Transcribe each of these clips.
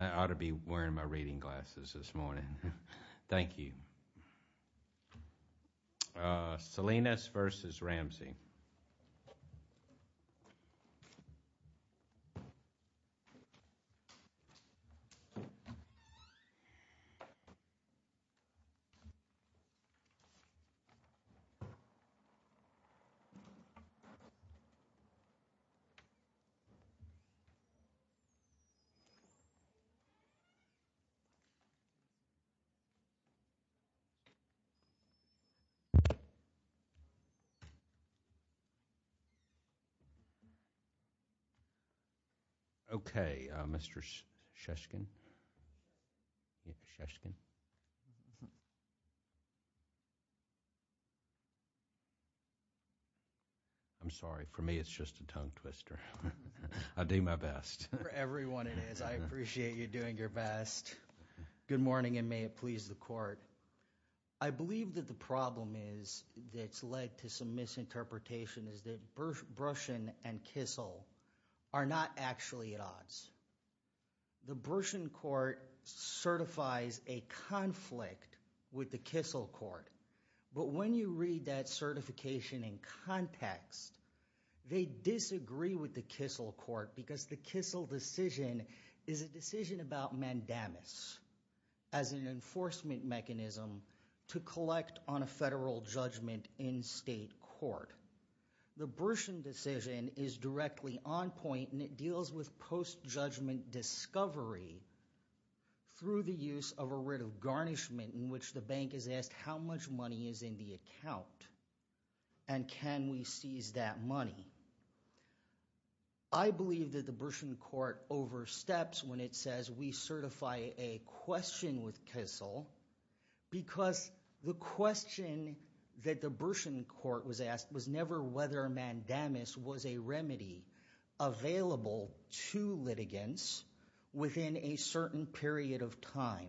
I ought to be wearing my reading glasses this morning. Thank you. Uh Salinas versus Ramsey. Okay, uh, Mr. Sheskin, Mr. Sheskin, I'm sorry for me it's just a tongue twister. I'll do my best. For everyone it is. I appreciate you doing your best. Good morning and may it please the court. I believe that the problem is that's led to some misinterpretation is that Brushen and Kissel are not actually at odds. The Brushen court certifies a conflict with the Kissel court but when you read that certification and context they disagree with the Kissel court because the Kissel decision is a decision about mandamus as an enforcement mechanism to collect on a federal judgment in state court. The Brushen decision is directly on point and it deals with post-judgment discovery through the use of a writ garnishment in which the bank is asked how much money is in the account and can we seize that money. I believe that the Brushen court oversteps when it says we certify a question with Kissel because the question that the Brushen court was asked was never whether mandamus was a remedy available to litigants within a certain period of time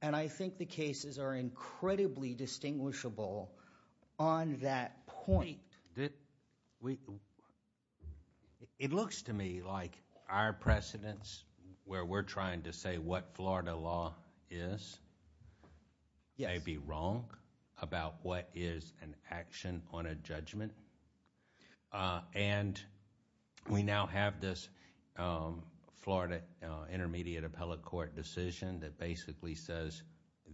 and I think the cases are incredibly distinguishable on that point. It looks to me like our precedents where we're trying to say what we now have this Florida intermediate appellate court decision that basically says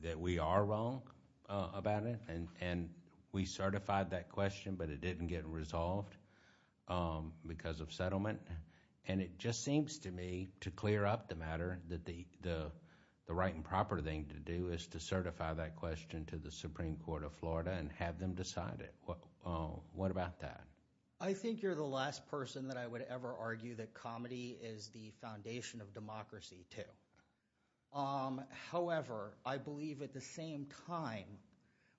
that we are wrong about it and we certified that question but it didn't get resolved because of settlement and it just seems to me to clear up the matter that the right and proper thing to do is to certify that question to the Supreme Court of Florida and have them decide it. What about that? I think you're the last person that I would ever argue that comedy is the foundation of democracy too. However, I believe at the same time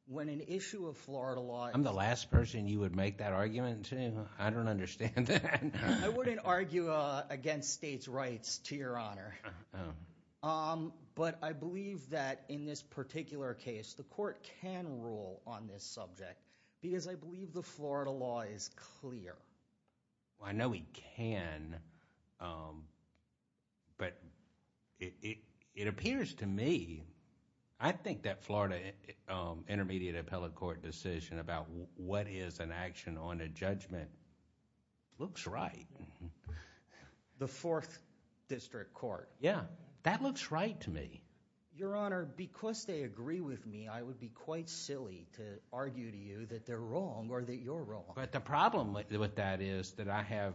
when an issue of Florida law. I'm the last person you would make that argument to. I don't understand that. I wouldn't argue against states' rights to your honor but I believe that in this particular case the court can rule on this subject because I believe the Florida law is clear. I know we can but it appears to me I think that Florida intermediate appellate court decision about what is an action on a judgment looks right. The fourth district court. Yeah, that looks right to me. Your honor, because they agree with me, I would be quite silly to argue to you that they're wrong or that you're wrong. But the problem with that is that I have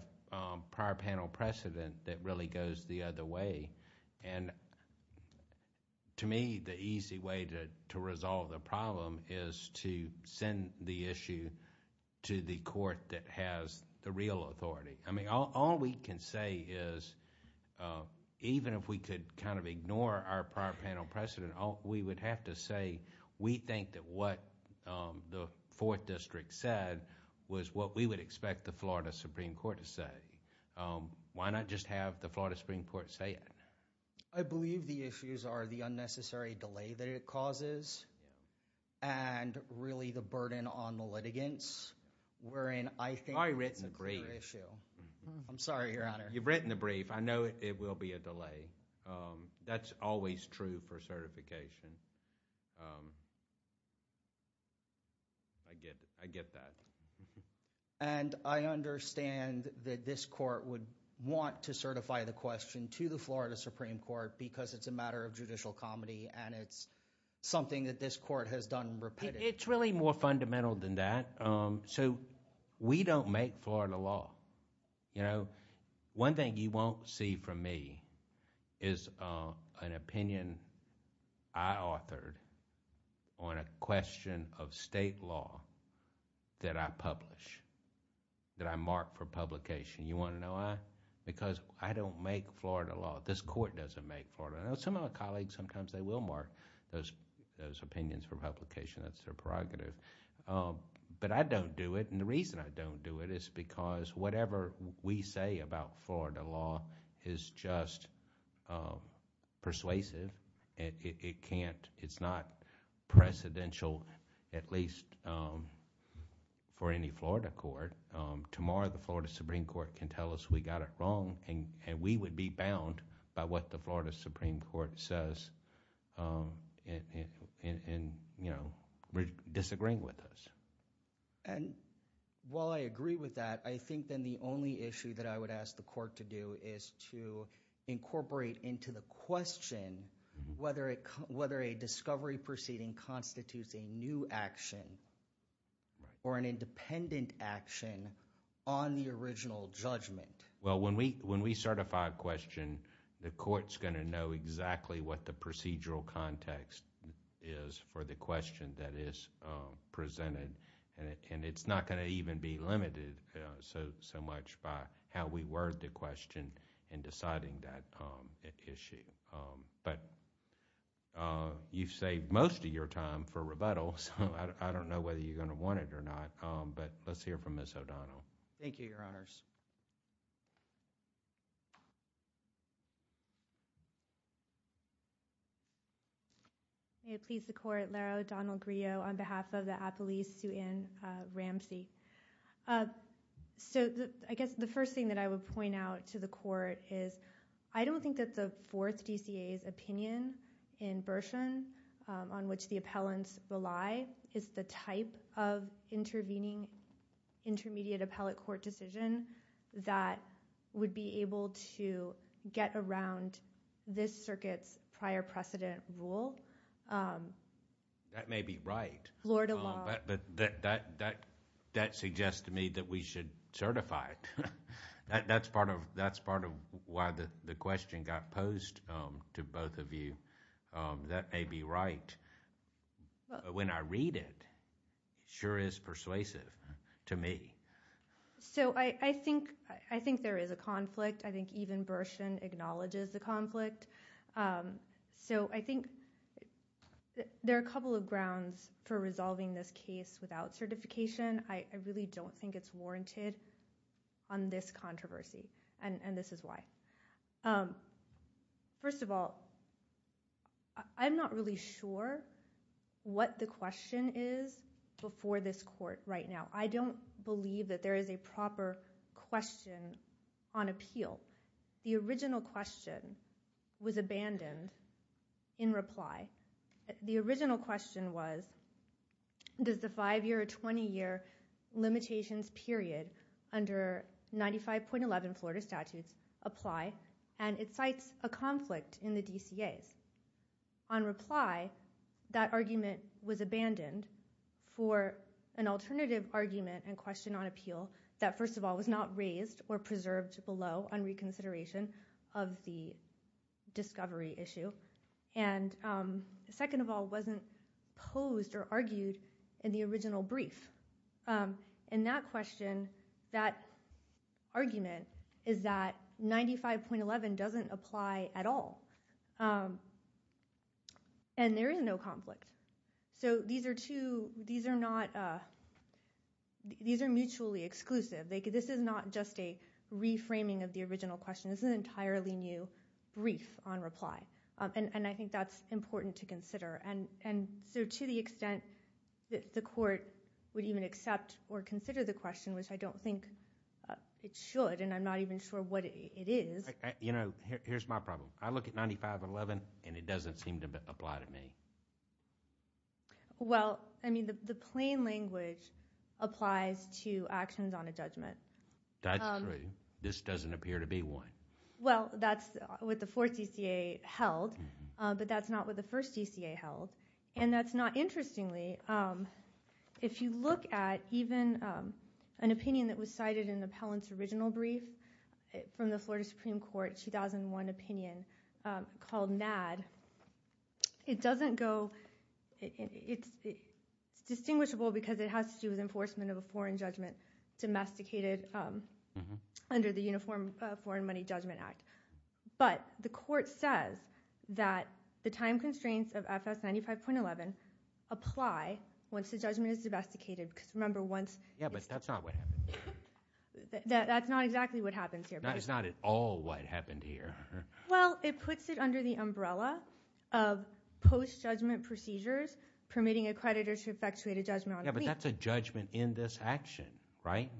prior panel precedent that really goes the other way and to me the easy way to resolve the problem is to send the issue to the court that has the real authority. I mean all we can say is even if we could kind of ignore our prior panel precedent, we would have to say we think that what the fourth district said was what we would expect the Florida Supreme Court to say. Why not just have the Florida Supreme Court say it? I believe the issues are the unnecessary delay that it causes and really the burden on the litigants wherein I think it's a clear issue. I'm sorry your honor. You've written the brief. I know it will be a delay. That's always true for certification. I get that. And I understand that this court would want to certify the question to the Florida Supreme Court because it's a matter of judicial comedy and it's something that this court has done repeatedly. It's really more fundamental than that. So we don't make Florida law. You know, one thing you won't see from me is an opinion I authored on a question of state law that I publish, that I mark for publication. You want to know why? Because I don't make Florida law. This court doesn't make Florida law. Some of my colleagues sometimes they will mark those opinions for publication. That's their prerogative. But I don't do it and the reason I don't do it is because whatever we say about Florida law is just persuasive and it can't, it's not precedential at least for any Florida court. Tomorrow the Florida Supreme Court can tell us we got it wrong and we would be bound by what the Florida Supreme Court says and, you know, disagreeing with us. And while I agree with that, I think then the only issue that I would ask the court to do is to incorporate into the question whether a discovery proceeding constitutes a new action or an independent action on the original judgment. Well, when we certify a procedural context is for the question that is presented and it's not going to even be limited so much by how we word the question in deciding that issue. But you've saved most of your time for rebuttal so I don't know whether you're going to want it or not. But let's hear from Ms. O'Donnell. Thank you, your honors. May it please the court, Laro O'Donnell Griot on behalf of the Appellee's suit in Ramsey. So I guess the first thing that I would point out to the court is I don't think that the fourth DCA's opinion in Bershon on which the appellants rely is the type of intervening intermediate appellate court decision that would be able to get around this circuit's prior precedent rule. That may be right. Lord alone. But that suggests to me that we should certify it. That's part of why the question got posed to both of you. That may be right. But when I read it, it sure is persuasive to me. So I think there is a conflict. I think even Bershon acknowledges the conflict. So I think there are a couple of grounds for resolving this case without certification. I really don't think it's warranted on this controversy and this is why. First of all, I'm not really sure what the question is before this court right now. I don't believe that there is a proper question on appeal. The original question was abandoned in reply. The original question was, does the five-year or 20-year limitations period under 95.11 Florida statutes apply? And it cites a conflict in the DCA's. On reply, that argument was abandoned for an alternative argument and question on appeal that, first of all, was not raised or preserved below on reconsideration of the discovery issue. And second of all, it wasn't posed or argued in the original brief. In that question, that argument is that 95.11 doesn't apply at all. And there is no conflict. So these are mutually exclusive. This is not just a and I think that's important to consider. And so to the extent that the court would even accept or consider the question, which I don't think it should, and I'm not even sure what it is. Here's my problem. I look at 95.11 and it doesn't seem to apply to me. Well, I mean, the plain language applies to actions on a judgment. That's true. This doesn't appear to be one. Well, that's what the fourth DCA held, but that's not what the first DCA held. And that's not interestingly, if you look at even an opinion that was cited in the Pellant's original brief from the Florida Supreme Court 2001 opinion called NAD, it doesn't go. It's distinguishable because it has to do with enforcement of a foreign judgment domesticated under the Uniform Foreign Money Judgment Act. But the court says that the time constraints of FS 95.11 apply once the judgment is domesticated. Because remember once. Yeah, but that's not what happened. That's not exactly what happens here. It's not at all what happened here. Well, it puts it under the umbrella of post-judgment procedures, permitting a creditor to effectuate a judgment on a plea. But that's a judgment in this action, right?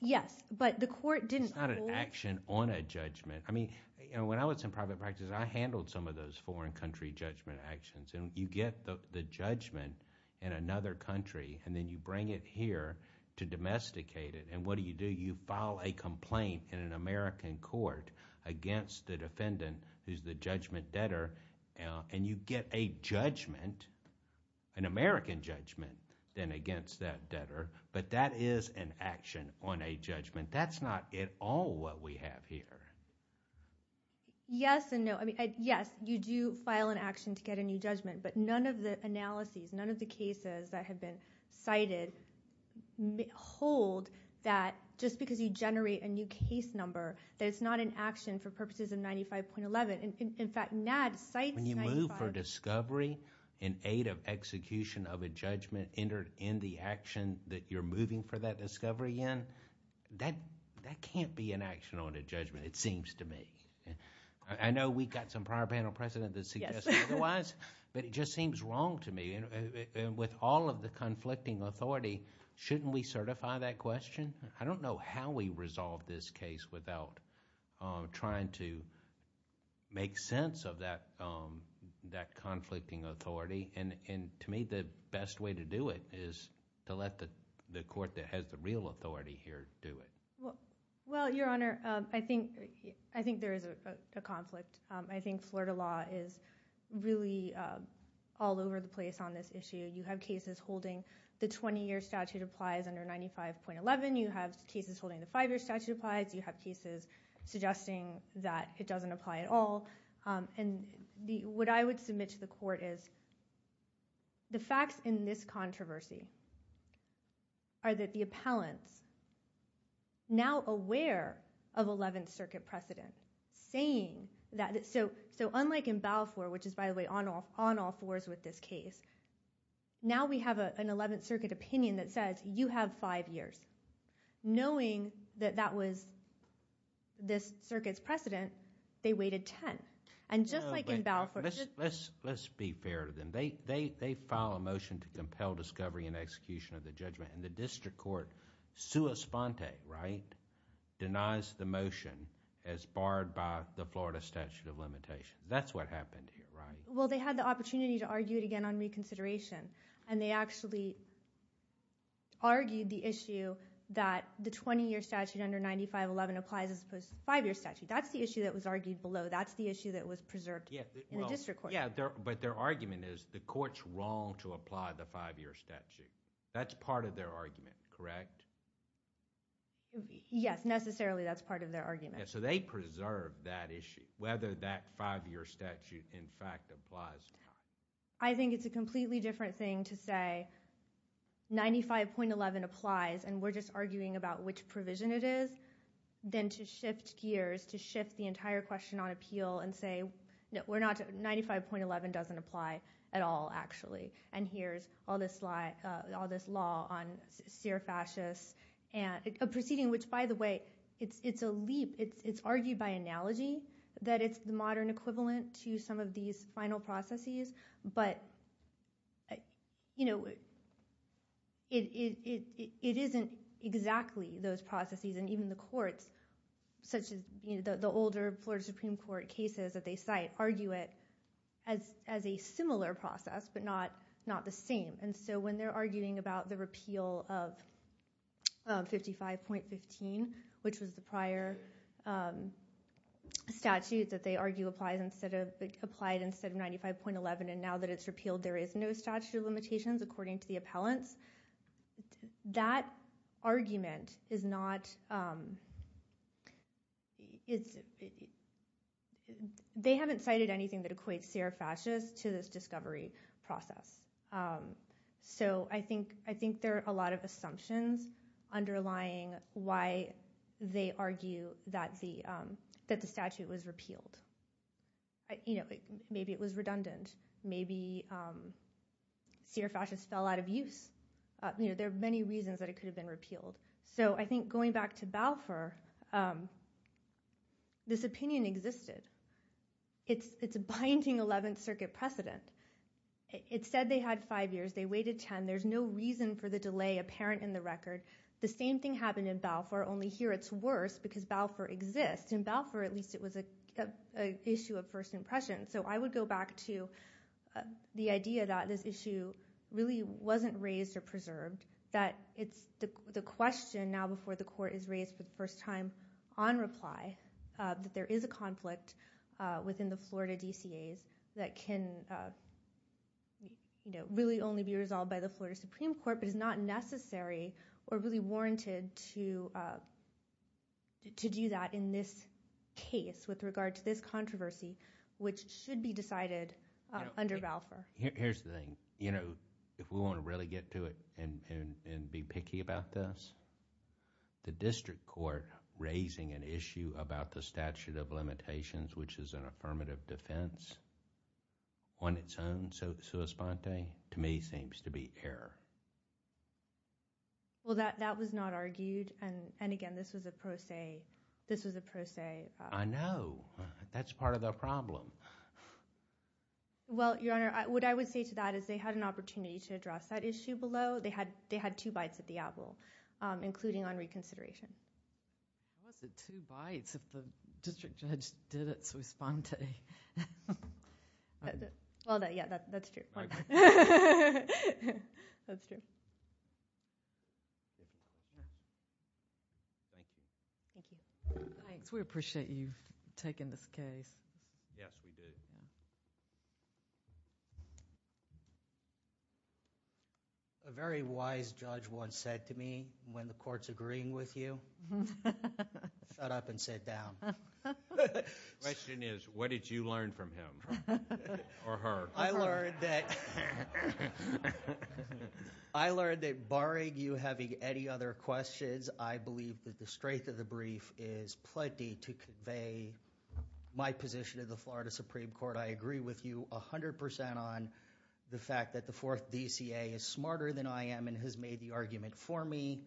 Yes, but the court didn't. It's not an action on a judgment. I mean, when I was in private practice, I handled some of those foreign country judgment actions. And you get the judgment in another country, and then you bring it here to domesticate it. And what do you do? You file a complaint in an American court against the defendant who's the judgment debtor. And you get a judgment, an American judgment, then against that debtor. But that is an action on a judgment. That's not at all what we have here. Yes and no. I mean, yes, you do file an action to get a new judgment. But none of the analyses, none of the cases that have been cited hold that just because you generate a new case number, that it's not an action for purposes of 95.11. In fact, NADD cites... When you move for discovery in aid of execution of a judgment entered in the action that you're moving for that discovery in, that can't be an action on a judgment, it seems to me. I know we got some prior panel precedent that suggests otherwise, but it just seems wrong to me. And with all of the conflicting authority, shouldn't we certify that question? I don't know how we resolve this case without trying to make sense of that conflicting authority. And to me, the best way to do it is to let the court that has the real authority here do it. Well, Your Honor, I think there is a conflict. I think Florida law is really all over the place on this issue. You have cases holding the 20-year statute applies under 95.11. You have cases holding the five-year statute applies. You have cases suggesting that it doesn't apply at all. And what I would submit to the court is the facts in this controversy are that the appellants, now aware of 11th Circuit precedent, saying that... So unlike in Balfour, which is, by the way, on all fours with this case, now we have an 11th Circuit opinion that says you have five years. Knowing that that was this circuit's precedent, they waited 10. And just like in Balfour... Let's be fair to them. They filed a motion to compel discovery and execution of the judgment. And the district court, sua sponte, right, denies the motion as barred by the Florida statute of limitations. That's what happened here, right? Well, they had the opportunity to argue it again on reconsideration. And they actually argued the issue that the 20-year statute under 95.11 applies as opposed to the five-year statute. That's the issue that was argued below. That's the issue that was preserved in the district court. Yeah, but their argument is the court's wrong to apply the five-year statute. That's part of their argument, correct? Yes, necessarily that's part of their argument. So they preserved that issue, whether that five-year statute in fact applies or not. I think it's a completely different thing to say 95.11 applies, and we're just arguing about which provision it is, than to shift gears, to shift the entire question on appeal and say, we're not... 95.11 doesn't apply at all, actually. And here's all this law on seer fascists. And a proceeding which, by the way, it's a leap. It's argued by analogy that it's the modern equivalent to some of these final processes. But it isn't exactly those processes. And even the courts, such as the older Florida Supreme Court cases that they cite, argue it as a similar process, but not the same. And so when they're arguing about the repeal of 55.15, which was the prior statute that they argue applied instead of 95.11, and now that it's repealed there is no statute of limitations according to the appellants, that argument is not... They haven't cited anything that equates seer fascists to this discovery process. So I think there are a lot of assumptions underlying why they argue that the statute was repealed. Maybe it was redundant. Maybe seer fascists fell out of use. There are many reasons that it could have been repealed. So I think going back to Balfour, this opinion existed. It's a binding 11th Circuit precedent. It said they had five years. They waited 10. There's no reason for the delay apparent in the record. The same thing happened in Balfour, only here it's worse because Balfour exists. In Balfour, at least, it was an issue of first impression. So I would go back to the idea that this issue really wasn't raised or preserved, that it's the question now before the court is raised for the first time on reply, that there is a conflict within the Florida DCAs that can really only be resolved by the Florida Supreme Court but is not necessary or really warranted to do that in this case with regard to this controversy, which should be decided under Balfour. Here's the thing. If we want to really get to it and be picky about this, the district court raising an issue about the statute of limitations, which is an affirmative defense, on its own, sui sponte, to me seems to be error. Well, that was not argued and again, this was a pro se. I know. That's part of the problem. Well, Your Honor, what I would say to that is they had an opportunity to address that issue below. They had two bites at the apple. Including on reconsideration. It wasn't two bites if the district judge did it sui sponte. Well, yeah, that's true. That's true. Thank you. Thank you. Thanks. We appreciate you taking this case. Yes, we do. Thank you. A very wise judge once said to me, when the court's agreeing with you, shut up and sit down. Question is, what did you learn from him? Or her? I learned that barring you having any other questions, I believe that the strength of the, my position of the Florida Supreme Court, I agree with you 100% on the fact that the fourth DCA is smarter than I am and has made the argument for me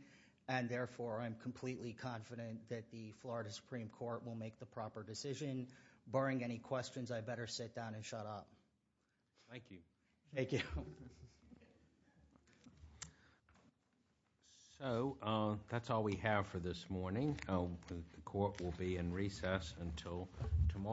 and therefore, I'm completely confident that the Florida Supreme Court will make the proper decision. Barring any questions, I better sit down and shut up. Thank you. Thank you. So, that's all we have for this morning. The court will be in recess until tomorrow.